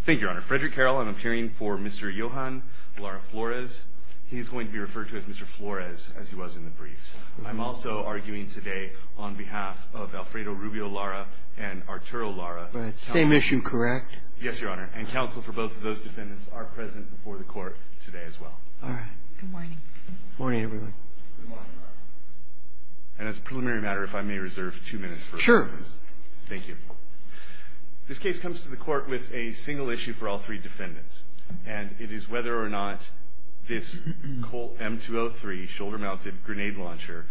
Thank you, Your Honor. Frederick Carroll, I'm appearing for Mr. Yoahjan Lara Flores. He's going to be referred to as Mr. Flores, as he was in the briefs. I'm also arguing today on behalf of Alfredo Rubio Lara and Arturo Lara. Same issue, correct? Yes, Your Honor. And counsel for both of those defendants are present before the court today as well. All right. Good morning. Good morning, everyone. Good morning, Your Honor. And as a preliminary matter, if I may reserve two minutes for it. Sure. Thank you. This case comes to the court with a single issue for all three defendants. And it is whether or not this Colt M203 shoulder-mounted grenade launcher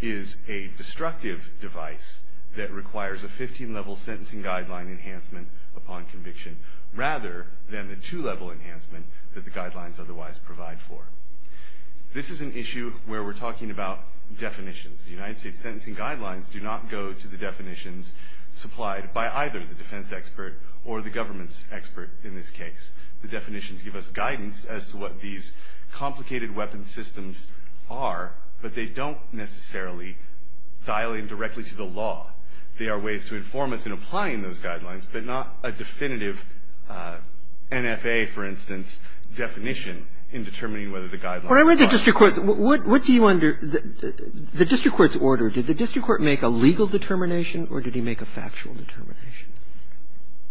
is a destructive device that requires a 15-level sentencing guideline enhancement upon conviction, rather than the two-level enhancement that the guidelines otherwise provide for. This is an issue where we're talking about definitions. The United States sentencing guidelines do not go to the definitions supplied by either the defense expert or the government's expert in this case. The definitions give us guidance as to what these complicated weapons systems are, but they don't necessarily dial in directly to the law. They are ways to inform us in applying those guidelines, but not a definitive NFA, for instance, definition in determining whether the guidelines are correct. When I read the district court, what do you wonder? The district court's order, did the district court make a legal determination or did he make a factual determination?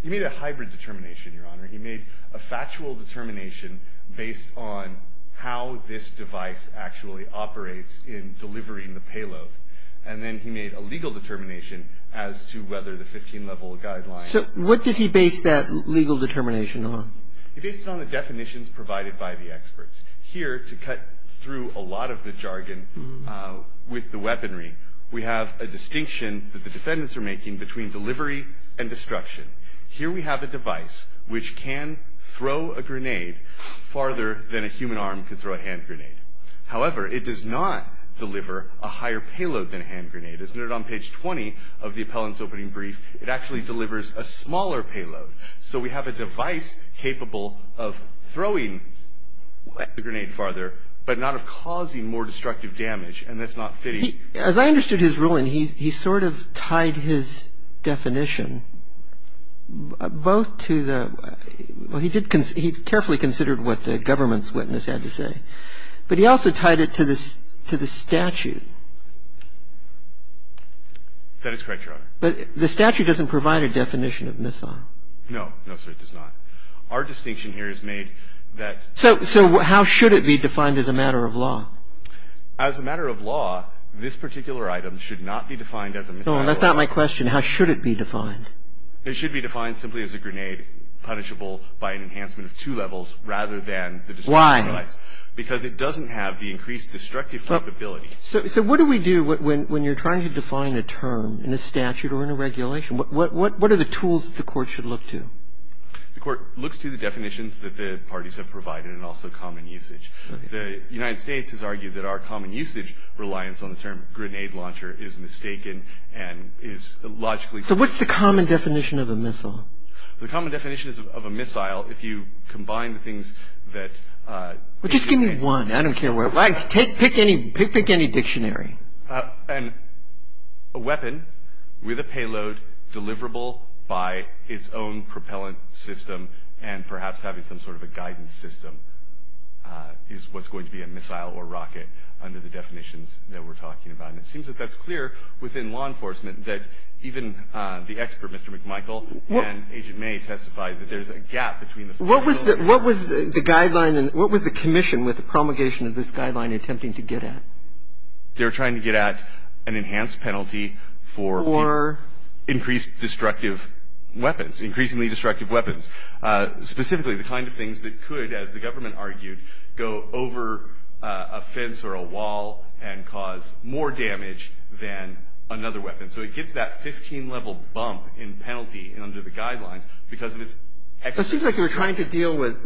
He made a hybrid determination, Your Honor. He made a factual determination based on how this device actually operates in delivering the payload. And then he made a legal determination as to whether the 15-level guideline. So what did he base that legal determination on? He based it on the definitions provided by the experts. Here, to cut through a lot of the jargon with the weaponry, we have a distinction that the defendants are making between delivery and destruction. Here we have a device which can throw a grenade farther than a human arm could throw a hand grenade. However, it does not deliver a higher payload than a hand grenade. As noted on page 20 of the appellant's opening brief, it actually delivers a smaller payload. So we have a device capable of throwing the grenade farther, but not of causing more destructive damage, and that's not fitting. As I understood his ruling, he sort of tied his definition both to the – well, he carefully considered what the government's witness had to say. But he also tied it to the statute. That is correct, Your Honor. But the statute doesn't provide a definition of missile. No, no, sir. It does not. Our distinction here is made that – So how should it be defined as a matter of law? As a matter of law, this particular item should not be defined as a missile. No, that's not my question. How should it be defined? It should be defined simply as a grenade punishable by an enhancement of two levels rather than the destruction device. Why? Because it doesn't have the increased destructive capability. So what do we do when you're trying to define a term in a statute or in a regulation? What are the tools that the court should look to? The court looks to the definitions that the parties have provided and also common usage. The United States has argued that our common usage reliance on the term grenade launcher is mistaken and is logically – So what's the common definition of a missile? The common definition of a missile, if you combine the things that – Well, just give me one. I don't care. Pick any dictionary. A weapon with a payload deliverable by its own propellant system and perhaps having some sort of a guidance system is what's going to be a missile or rocket under the definitions that we're talking about. And it seems that that's clear within law enforcement that even the expert, Mr. McMichael, and Agent May testified that there's a gap between the – What was the guideline and what was the commission with the promulgation of this guideline attempting to get at? They were trying to get at an enhanced penalty for increased destructive weapons, increasingly destructive weapons. Specifically, the kind of things that could, as the government argued, go over a fence or a wall and cause more damage than another weapon. So it gets that 15-level bump in penalty under the guidelines because of its – But it seems like they were trying to deal with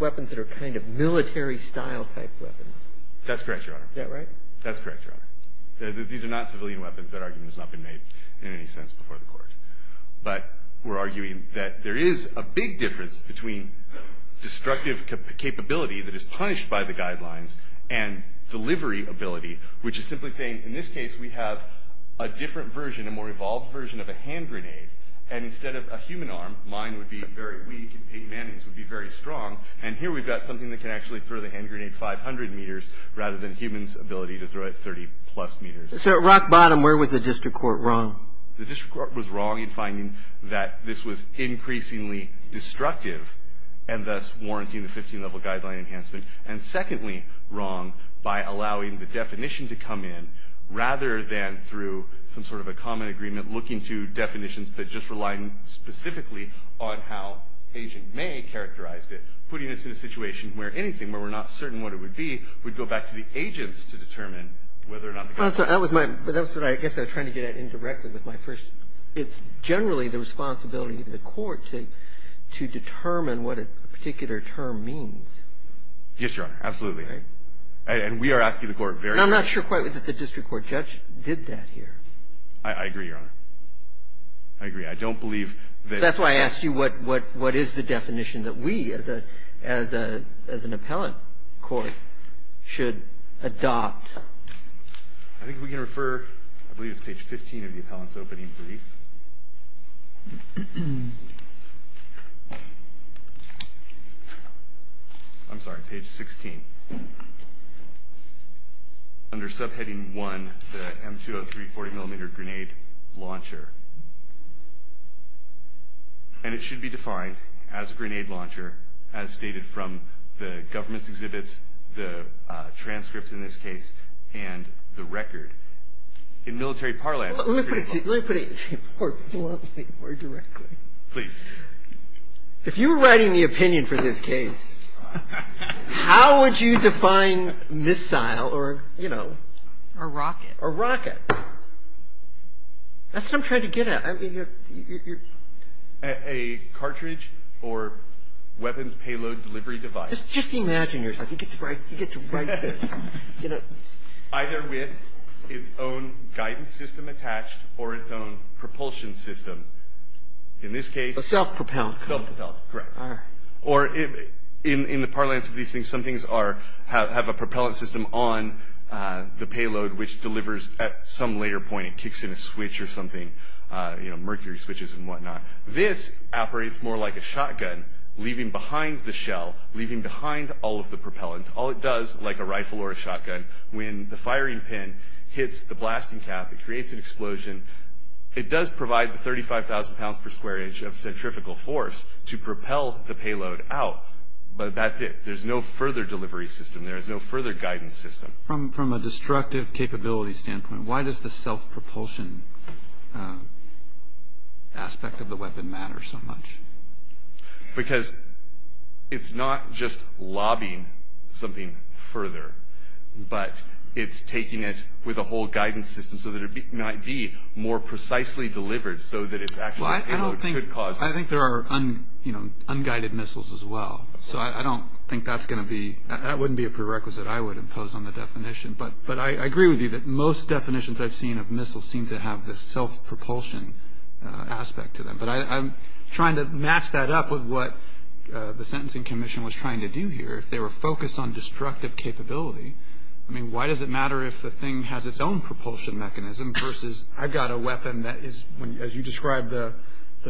weapons that are kind of military-style type weapons. That's correct, Your Honor. Is that right? That's correct, Your Honor. These are not civilian weapons. That argument has not been made in any sense before the Court. But we're arguing that there is a big difference between destructive capability that is punished by the guidelines and delivery ability, which is simply saying, in this case, we have a different version, a more evolved version of a hand grenade, and instead of a human arm, mine would be very weak and Peyton Manning's would be very strong. And here we've got something that can actually throw the hand grenade 500 meters rather than humans' ability to throw it 30-plus meters. So at rock bottom, where was the district court wrong? The district court was wrong in finding that this was increasingly destructive and thus warranting the 15-level guideline enhancement, and secondly wrong by allowing the definition to come in rather than through some sort of a common agreement looking to definitions but just relying specifically on how Agent May characterized it, putting us in a situation where anything, where we're not certain what it would be, we'd go back to the agents to determine whether or not the guideline was correct. I guess I was trying to get at it indirectly with my first. It's generally the responsibility of the court to determine what a particular term means. Yes, Your Honor. Absolutely. And we are asking the court very carefully. And I'm not sure quite that the district court judge did that here. I agree, Your Honor. I agree. I don't believe that. That's why I asked you what is the definition that we, as an appellant court, should adopt. I think we can refer, I believe it's page 15 of the appellant's opening brief. I'm sorry, page 16. Under subheading 1, the M203 40-millimeter grenade launcher. And it should be defined as a grenade launcher, as stated from the government's exhibits, the transcripts in this case, and the record. In military parlance, it's a grenade launcher. Let me put it more bluntly, more directly. Please. If you were writing the opinion for this case, how would you define missile or, you know? A rocket. A rocket. That's what I'm trying to get at. A cartridge or weapons payload delivery device. Just imagine yourself. You get to write this. Either with its own guidance system attached or its own propulsion system. In this case. A self-propellant. Self-propellant, correct. Or in the parlance of these things, some things have a propellant system on the payload, which delivers at some later point. It kicks in a switch or something, you know, mercury switches and whatnot. This operates more like a shotgun, leaving behind the shell, leaving behind all of the propellant. All it does, like a rifle or a shotgun, when the firing pin hits the blasting cap, it creates an explosion. It does provide the 35,000 pounds per square inch of centrifugal force to propel the payload out, but that's it. There's no further delivery system. There is no further guidance system. From a destructive capability standpoint, why does the self-propulsion aspect of the weapon matter so much? Because it's not just lobbying something further, but it's taking it with a whole guidance system so that it might be more precisely delivered so that it's actually a payload. I think there are, you know, unguided missiles as well. So I don't think that's going to be, that wouldn't be a prerequisite I would impose on the definition. But I agree with you that most definitions I've seen of missiles seem to have this self-propulsion aspect to them. But I'm trying to match that up with what the Sentencing Commission was trying to do here. If they were focused on destructive capability, I mean, why does it matter if the thing has its own propulsion mechanism versus I've got a weapon that is, as you described, the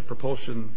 propulsion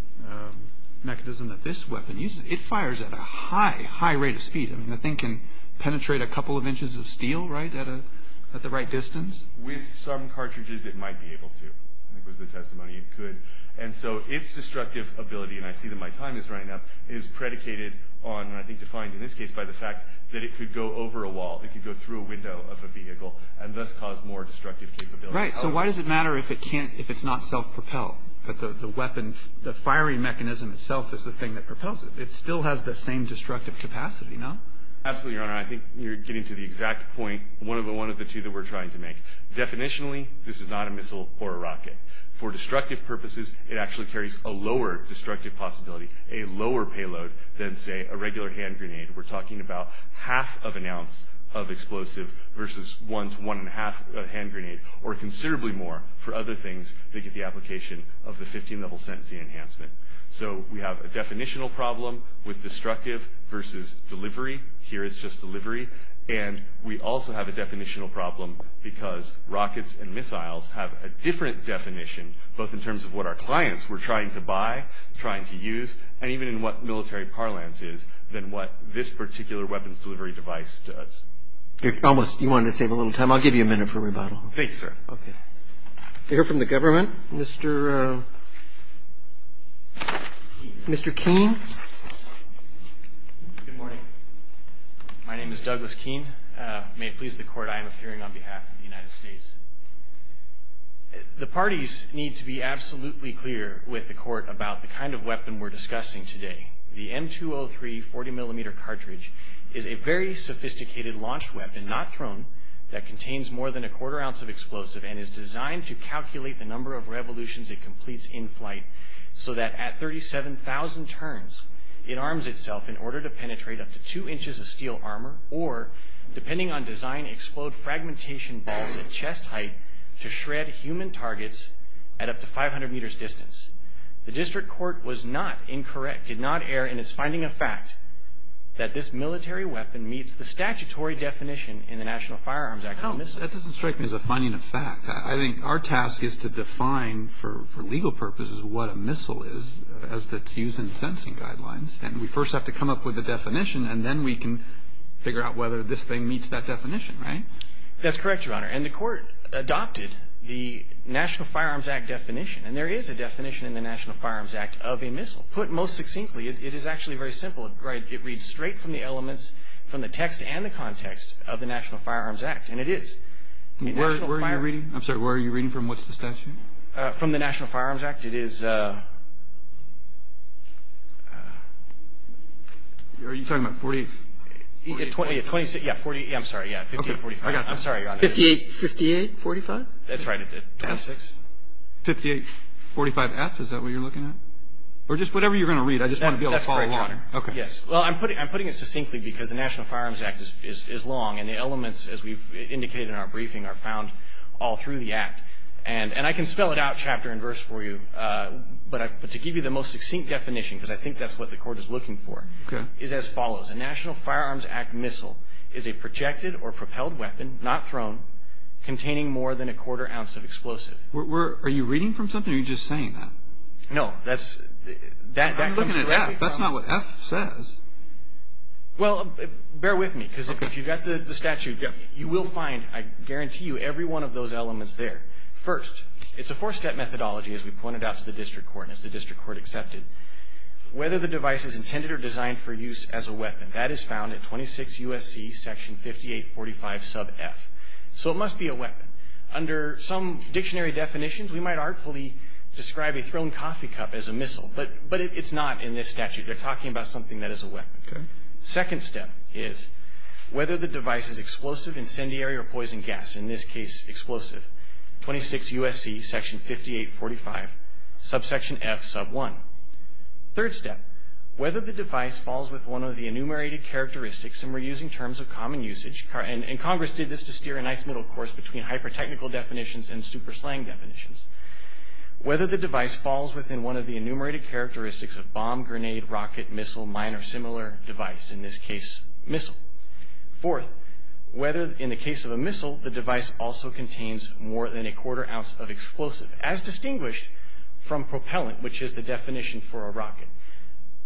mechanism that this weapon uses. It fires at a high, high rate of speed. I mean, the thing can penetrate a couple of inches of steel, right, at the right distance. With some cartridges, it might be able to. I think it was the testimony it could. And so its destructive ability, and I see that my time is running up, is predicated on, and I think defined in this case by the fact that it could go over a wall. It could go through a window of a vehicle and thus cause more destructive capability. Right. So why does it matter if it can't, if it's not self-propelled, that the weapon, the firing mechanism itself is the thing that propels it? It still has the same destructive capacity, no? Absolutely, Your Honor. I think you're getting to the exact point, one of the two that we're trying to make. Definitionally, this is not a missile or a rocket. For destructive purposes, it actually carries a lower destructive possibility, a lower payload than, say, a regular hand grenade. We're talking about half of an ounce of explosive versus one to one-and-a-half of a hand grenade, or considerably more for other things that get the application of the 15-level sentencing enhancement. So we have a definitional problem with destructive versus delivery. Here it's just delivery. And we also have a definitional problem because rockets and missiles have a different definition, both in terms of what our clients were trying to buy, trying to use, and even in what military parlance is than what this particular weapons delivery device does. You almost, you wanted to save a little time. I'll give you a minute for rebuttal. Thank you, sir. Okay. We hear from the government. Mr. Keene. Good morning. My name is Douglas Keene. May it please the Court, I am appearing on behalf of the United States. The parties need to be absolutely clear with the Court about the kind of weapon we're discussing today. The M203 40-millimeter cartridge is a very sophisticated launch weapon, not thrown, that contains more than a quarter ounce of explosive and is designed to calculate the number of revolutions it completes in flight so that at 37,000 turns, it arms itself in order to penetrate up to two inches of steel armor or, depending on design, explode fragmentation balls at chest height to shred human targets at up to 500 meters distance. The district court was not incorrect, did not err in its finding of fact, that this military weapon meets the statutory definition in the National Firearms Act. That doesn't strike me as a finding of fact. I think our task is to define for legal purposes what a missile is as it's used in sentencing guidelines, and we first have to come up with a definition, and then we can figure out whether this thing meets that definition, right? That's correct, Your Honor, and the Court adopted the National Firearms Act definition, and there is a definition in the National Firearms Act of a missile. Put most succinctly, it is actually very simple. It reads straight from the elements from the text and the context of the National Firearms Act, and it is. Where are you reading? I'm sorry, where are you reading from? What's the statute? From the National Firearms Act. It is. Are you talking about 48th? Yeah, I'm sorry, yeah, 5845. I'm sorry, Your Honor. 5845? That's right, it did, 26. 5845F, is that what you're looking at? Or just whatever you're going to read. I just want to be able to follow along. That's correct, Your Honor. Well, I'm putting it succinctly because the National Firearms Act is long, and the elements, as we've indicated in our briefing, are found all through the Act. And I can spell it out chapter and verse for you, but to give you the most succinct definition, because I think that's what the Court is looking for, is as follows. A National Firearms Act missile is a projected or propelled weapon, not thrown, containing more than a quarter ounce of explosive. Are you reading from something, or are you just saying that? No, that comes directly from the Act. I'm looking at F, that's not what F says. Well, bear with me, because if you've got the statute, you will find, I guarantee you, every one of those elements there. First, it's a four-step methodology, as we pointed out to the District Court and as the District Court accepted. Whether the device is intended or designed for use as a weapon, that is found at 26 U.S.C. section 5845 sub F. So it must be a weapon. Under some dictionary definitions, we might artfully describe a thrown coffee cup as a missile, but it's not in this statute. They're talking about something that is a weapon. Second step is whether the device is explosive, incendiary, or poison gas, in this case explosive. 26 U.S.C. section 5845 subsection F sub 1. Third step, whether the device falls within one of the enumerated characteristics, and we're using terms of common usage, and Congress did this to steer a nice middle course between hyper-technical definitions and super slang definitions. Whether the device falls within one of the enumerated characteristics of bomb, grenade, rocket, missile, mine, or similar device, in this case missile. Fourth, whether, in the case of a missile, the device also contains more than a quarter ounce of explosive, as distinguished from propellant, which is the definition for a rocket.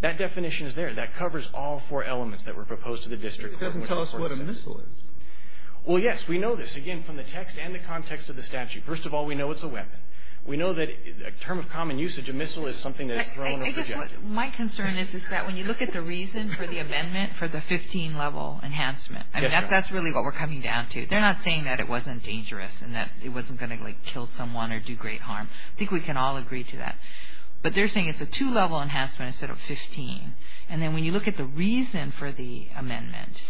That definition is there. That covers all four elements that were proposed to the District Court. It doesn't tell us what a missile is. Well, yes, we know this, again, from the text and the context of the statute. First of all, we know it's a weapon. We know that a term of common usage, a missile, is something that is thrown in a projectile. My concern is that when you look at the reason for the amendment for the 15-level enhancement, I mean, that's really what we're coming down to. They're not saying that it wasn't dangerous and that it wasn't going to, like, kill someone or do great harm. I think we can all agree to that. But they're saying it's a two-level enhancement instead of 15. And then when you look at the reason for the amendment,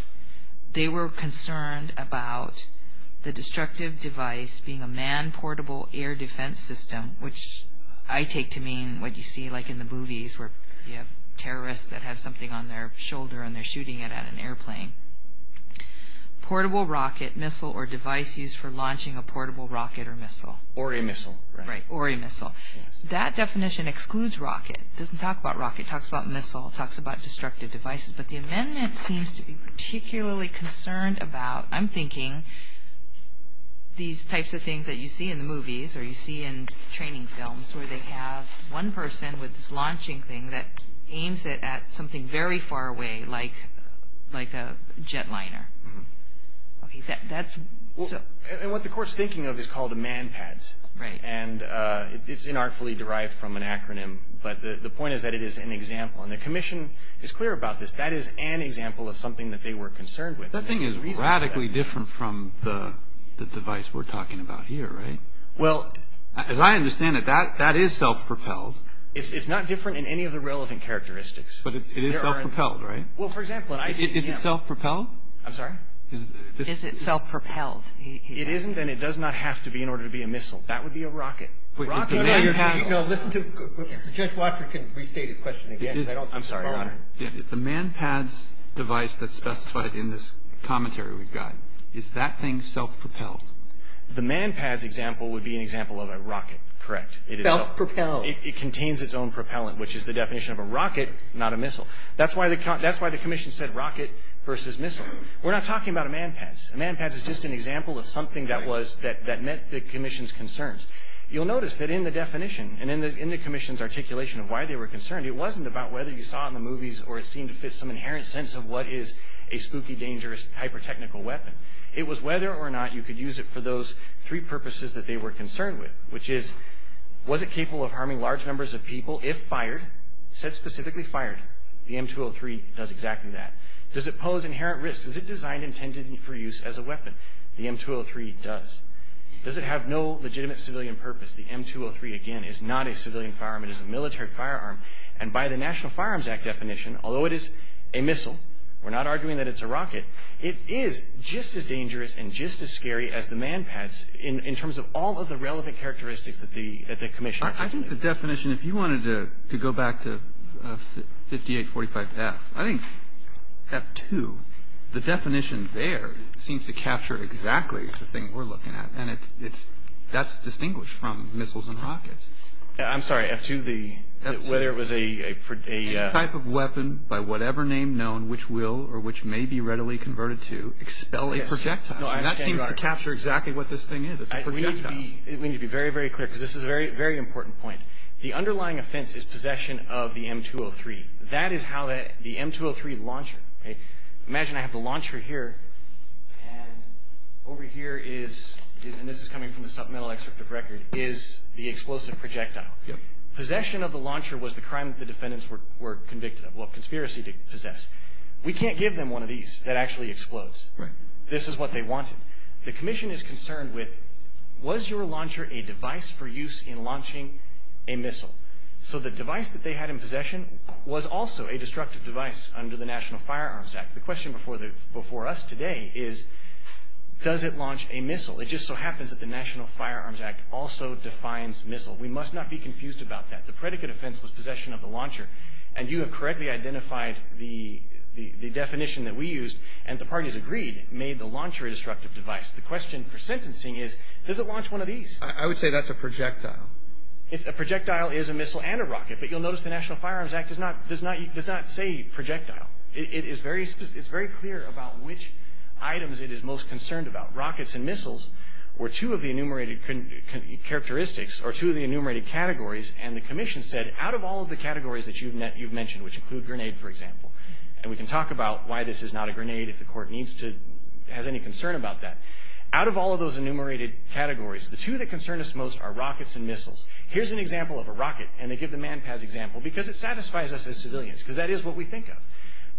they were concerned about the destructive device being a manned portable air defense system, which I take to mean what you see, like, in the movies where you have terrorists that have something on their shoulder and they're shooting it at an airplane. Portable rocket, missile, or device used for launching a portable rocket or missile. Or a missile. Right, or a missile. That definition excludes rocket. It doesn't talk about rocket. It talks about missile. It talks about destructive devices. But the amendment seems to be particularly concerned about, I'm thinking, these types of things that you see in the movies or you see in training films where they have one person with this launching thing that aims it at something very far away, like a jetliner. That's so... And what the Court's thinking of is called a MANPADS. Right. And it's inartfully derived from an acronym. But the point is that it is an example. And the Commission is clear about this. That is an example of something that they were concerned with. That thing is radically different from the device we're talking about here, right? Well... As I understand it, that is self-propelled. It's not different in any of the relevant characteristics. But it is self-propelled, right? Well, for example... Is it self-propelled? I'm sorry? Is it self-propelled? That would be a rocket. Is the MANPADS... No, no, listen to... Judge Watford can restate his question again. I'm sorry, Your Honor. The MANPADS device that's specified in this commentary we've got, is that thing self-propelled? The MANPADS example would be an example of a rocket, correct. Self-propelled. It contains its own propellant, which is the definition of a rocket, not a missile. That's why the Commission said rocket versus missile. We're not talking about a MANPADS. A MANPADS is just an example of something that was... that met the Commission's concerns. You'll notice that in the definition and in the Commission's articulation of why they were concerned, it wasn't about whether you saw it in the movies or it seemed to fit some inherent sense of what is a spooky, dangerous, hyper-technical weapon. It was whether or not you could use it for those three purposes that they were concerned with, which is, was it capable of harming large numbers of people if fired? Said specifically, fired. The M203 does exactly that. Does it pose inherent risk? Is it designed and intended for use as a weapon? The M203 does. Does it have no legitimate civilian purpose? The M203, again, is not a civilian firearm. It is a military firearm. And by the National Firearms Act definition, although it is a missile, we're not arguing that it's a rocket, it is just as dangerous and just as scary as the MANPADS in terms of all of the relevant characteristics that the Commission... I think the definition, if you wanted to go back to 5845F, I think F2, the definition there seems to capture exactly the thing we're looking at. And that's distinguished from missiles and rockets. I'm sorry, F2, whether it was a... Any type of weapon by whatever name known which will or which may be readily converted to expel a projectile. And that seems to capture exactly what this thing is. It's a projectile. We need to be very, very clear, because this is a very, very important point. The underlying offense is possession of the M203. That is how the M203 launcher. Imagine I have the launcher here, and over here is, and this is coming from the supplemental excerpt of record, is the explosive projectile. Possession of the launcher was the crime that the defendants were convicted of, well, conspiracy to possess. We can't give them one of these that actually explodes. This is what they wanted. The Commission is concerned with, was your launcher a device for use in launching a missile? So the device that they had in possession was also a destructive device under the National Firearms Act. The question before us today is, does it launch a missile? It just so happens that the National Firearms Act also defines missile. We must not be confused about that. The predicate offense was possession of the launcher. And you have correctly identified the definition that we used, and the parties agreed made the launcher a destructive device. The question for sentencing is, does it launch one of these? I would say that's a projectile. A projectile is a missile and a rocket, but you'll notice the National Firearms Act does not say projectile. It's very clear about which items it is most concerned about. Rockets and missiles were two of the enumerated characteristics, or two of the enumerated categories, and the Commission said, out of all of the categories that you've mentioned, which include grenade, for example, and we can talk about why this is not a grenade if the Court has any concern about that. Out of all of those enumerated categories, the two that concern us most are rockets and missiles. Here's an example of a rocket, and they give the MANPADS example because it satisfies us as civilians, because that is what we think of.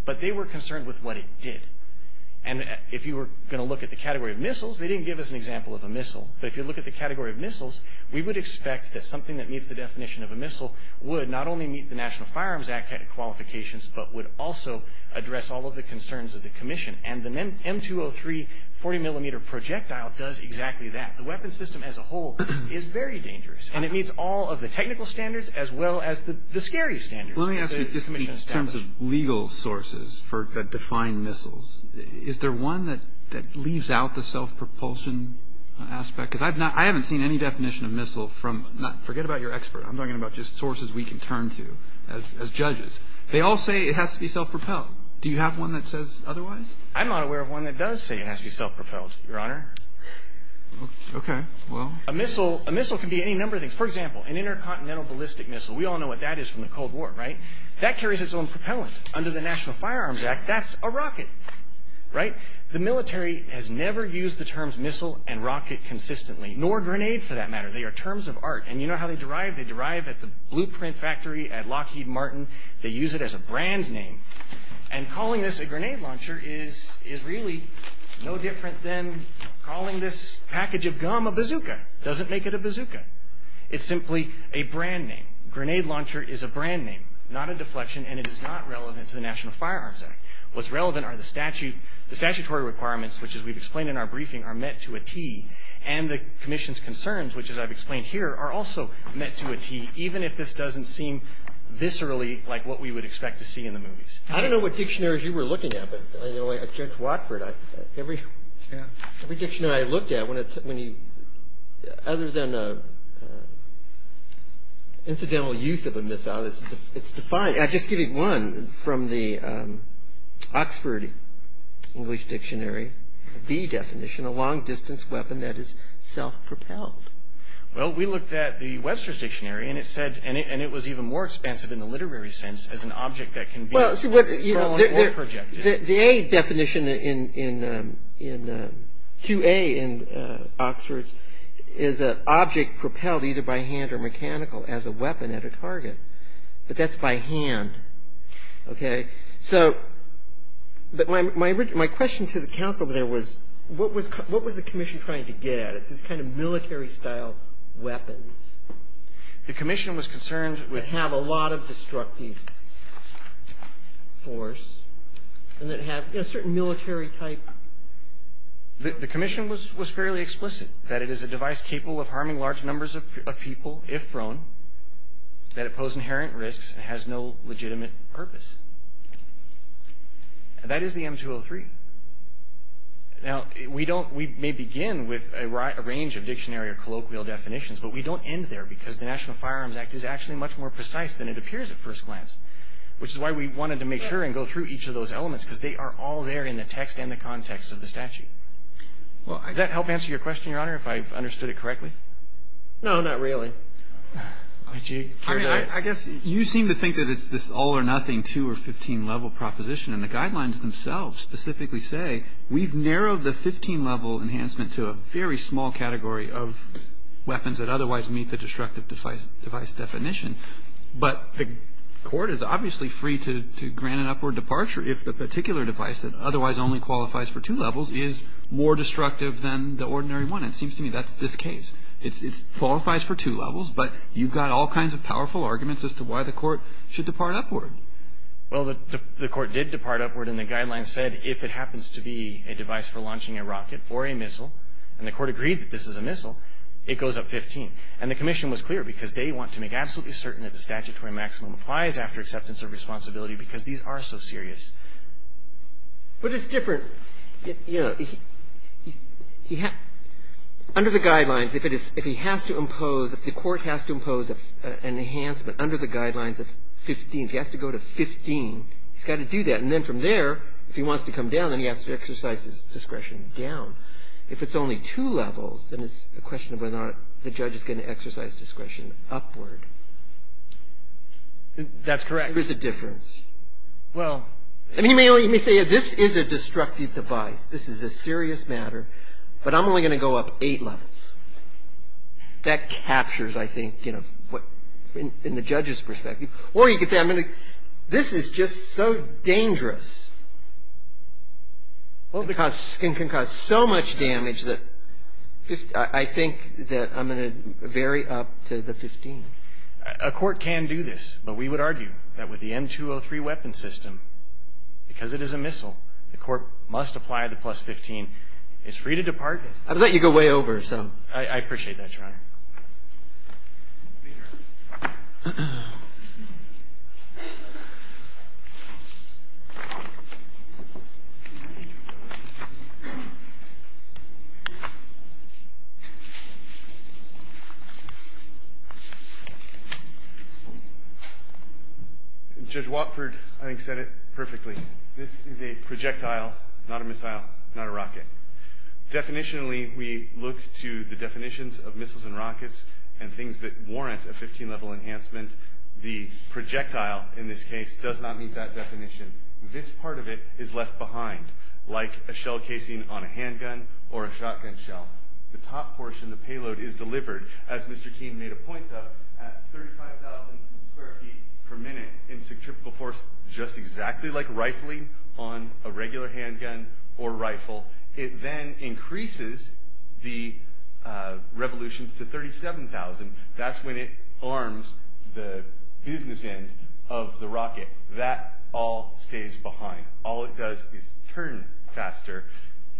But they were concerned with what it did. And if you were going to look at the category of missiles, they didn't give us an example of a missile. But if you look at the category of missiles, we would expect that something that meets the definition of a missile would not only meet the National Firearms Act qualifications, but would also address all of the concerns of the Commission. And the M203 40-millimeter projectile does exactly that. The weapon system as a whole is very dangerous, and it meets all of the technical standards as well as the scary standards that the Commission established. Roberts. Let me ask you, just in terms of legal sources that define missiles, is there one that leaves out the self-propulsion aspect? Because I haven't seen any definition of missile from not – forget about your expert. I'm talking about just sources we can turn to as judges. They all say it has to be self-propelled. Do you have one that says otherwise? I'm not aware of one that does say it has to be self-propelled, Your Honor. Okay, well. A missile can be any number of things. For example, an intercontinental ballistic missile. We all know what that is from the Cold War, right? That carries its own propellant. Under the National Firearms Act, that's a rocket, right? The military has never used the terms missile and rocket consistently, nor grenade for that matter. They are terms of art. And you know how they derive? They derive at the blueprint factory at Lockheed Martin. They use it as a brand name. And calling this a grenade launcher is really no different than calling this package of gum a bazooka. It doesn't make it a bazooka. It's simply a brand name. Grenade launcher is a brand name, not a deflection, and it is not relevant to the National Firearms Act. What's relevant are the statutory requirements, which, as we've explained in our briefing, are met to a T. And the commission's concerns, which, as I've explained here, are also met to a T, even if this doesn't seem viscerally like what we would expect to see in the movies. I don't know what dictionaries you were looking at, but Judge Watford, every dictionary I looked at, other than incidental use of a missile, it's defined. Just give me one from the Oxford English Dictionary, the definition, a long-distance weapon that is self-propelled. Well, we looked at the Webster's Dictionary, and it said, and it was even more expansive in the literary sense as an object that can be projected. The A definition, 2A in Oxford's, is an object propelled either by hand or mechanical as a weapon at a target. But that's by hand. Okay? So, but my question to the counsel there was, what was the commission trying to get at? It's this kind of military-style weapons that have a lot of destructive force and that have a certain military type. The commission was fairly explicit that it is a device capable of harming large numbers of people, if thrown, that it pose inherent risks and has no legitimate purpose. That is the M203. Now, we don't, we may begin with a range of dictionary or colloquial definitions, but we don't end there because the National Firearms Act is actually much more precise than it appears at first glance, which is why we wanted to make sure and go through each of those elements because they are all there in the text and the context of the statute. Does that help answer your question, Your Honor, if I've understood it correctly? No, not really. I guess you seem to think that it's this all-or-nothing 2 or 15 level proposition, and the guidelines themselves specifically say we've narrowed the 15 level enhancement to a very small category of weapons that otherwise meet the destructive device definition, but the court is obviously free to grant an upward departure if the particular device that otherwise only qualifies for two levels is more destructive than the ordinary one. It seems to me that's this case. It qualifies for two levels, but you've got all kinds of powerful arguments as to why the court should depart upward. Well, the court did depart upward, and the guidelines said if it happens to be a device for launching a rocket or a missile, and the court agreed that this is a missile, it goes up 15. And the commission was clear because they want to make absolutely certain that the statutory maximum applies after acceptance of responsibility because these are so serious. But it's different. Under the guidelines, if he has to impose, if the court has to impose an enhancement under the guidelines of 15, if he has to go to 15, he's got to do that. And then from there, if he wants to come down, then he has to exercise his discretion down. If it's only two levels, then it's a question of whether or not the judge is going to exercise discretion upward. That's correct. There's a difference. Well. I mean, you may say this is a destructive device. This is a serious matter. But I'm only going to go up eight levels. That captures, I think, you know, in the judge's perspective. Or you could say this is just so dangerous. It can cause so much damage that I think that I'm going to vary up to the 15. A court can do this. But we would argue that with the M203 weapon system, because it is a missile, the court must apply the plus 15. It's free to depart. I appreciate that, Your Honor. Thank you, Your Honor. Judge Watford, I think, said it perfectly. This is a projectile, not a missile, not a rocket. Definitionally, we look to the definitions of missiles and rockets and things that warrant a 15-level enhancement. The projectile, in this case, does not meet that definition. This part of it is left behind, like a shell casing on a handgun or a shotgun shell. The top portion, the payload, is delivered, as Mr. Keene made a point of, at 35,000 square feet per minute in centrifugal force, just exactly like rifling on a regular handgun or rifle. It then increases the revolutions to 37,000. That's when it arms the business end of the rocket. That all stays behind. All it does is turn faster.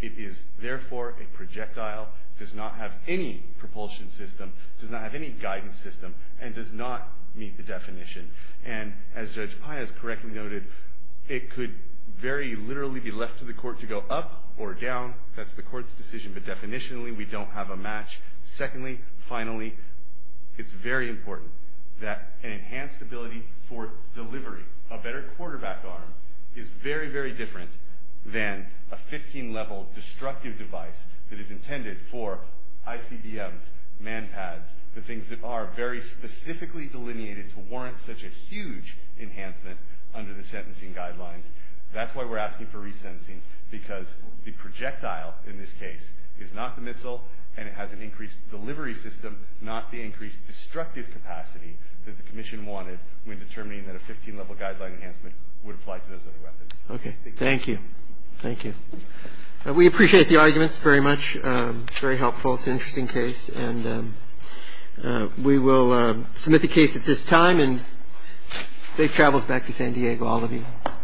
It is, therefore, a projectile. It does not have any propulsion system. It does not have any guidance system. And it does not meet the definition. And as Judge Paez correctly noted, it could very literally be left to the court to go up or down. That's the court's decision. But definitionally, we don't have a match. Secondly, finally, it's very important that an enhanced ability for delivery, a better quarterback arm, is very, very different than a 15-level destructive device that is intended for ICBMs, MANPADs, the things that are very specifically delineated to warrant such a huge enhancement under the sentencing guidelines. That's why we're asking for resentencing, because the projectile, in this case, is not the missile, and it has an increased delivery system, not the increased destructive capacity that the commission wanted when determining that a 15-level guideline enhancement would apply to those other weapons. Thank you. Thank you. We appreciate the arguments very much. Very helpful. It's an interesting case. And we will submit the case at this time. And safe travels back to San Diego, all of you.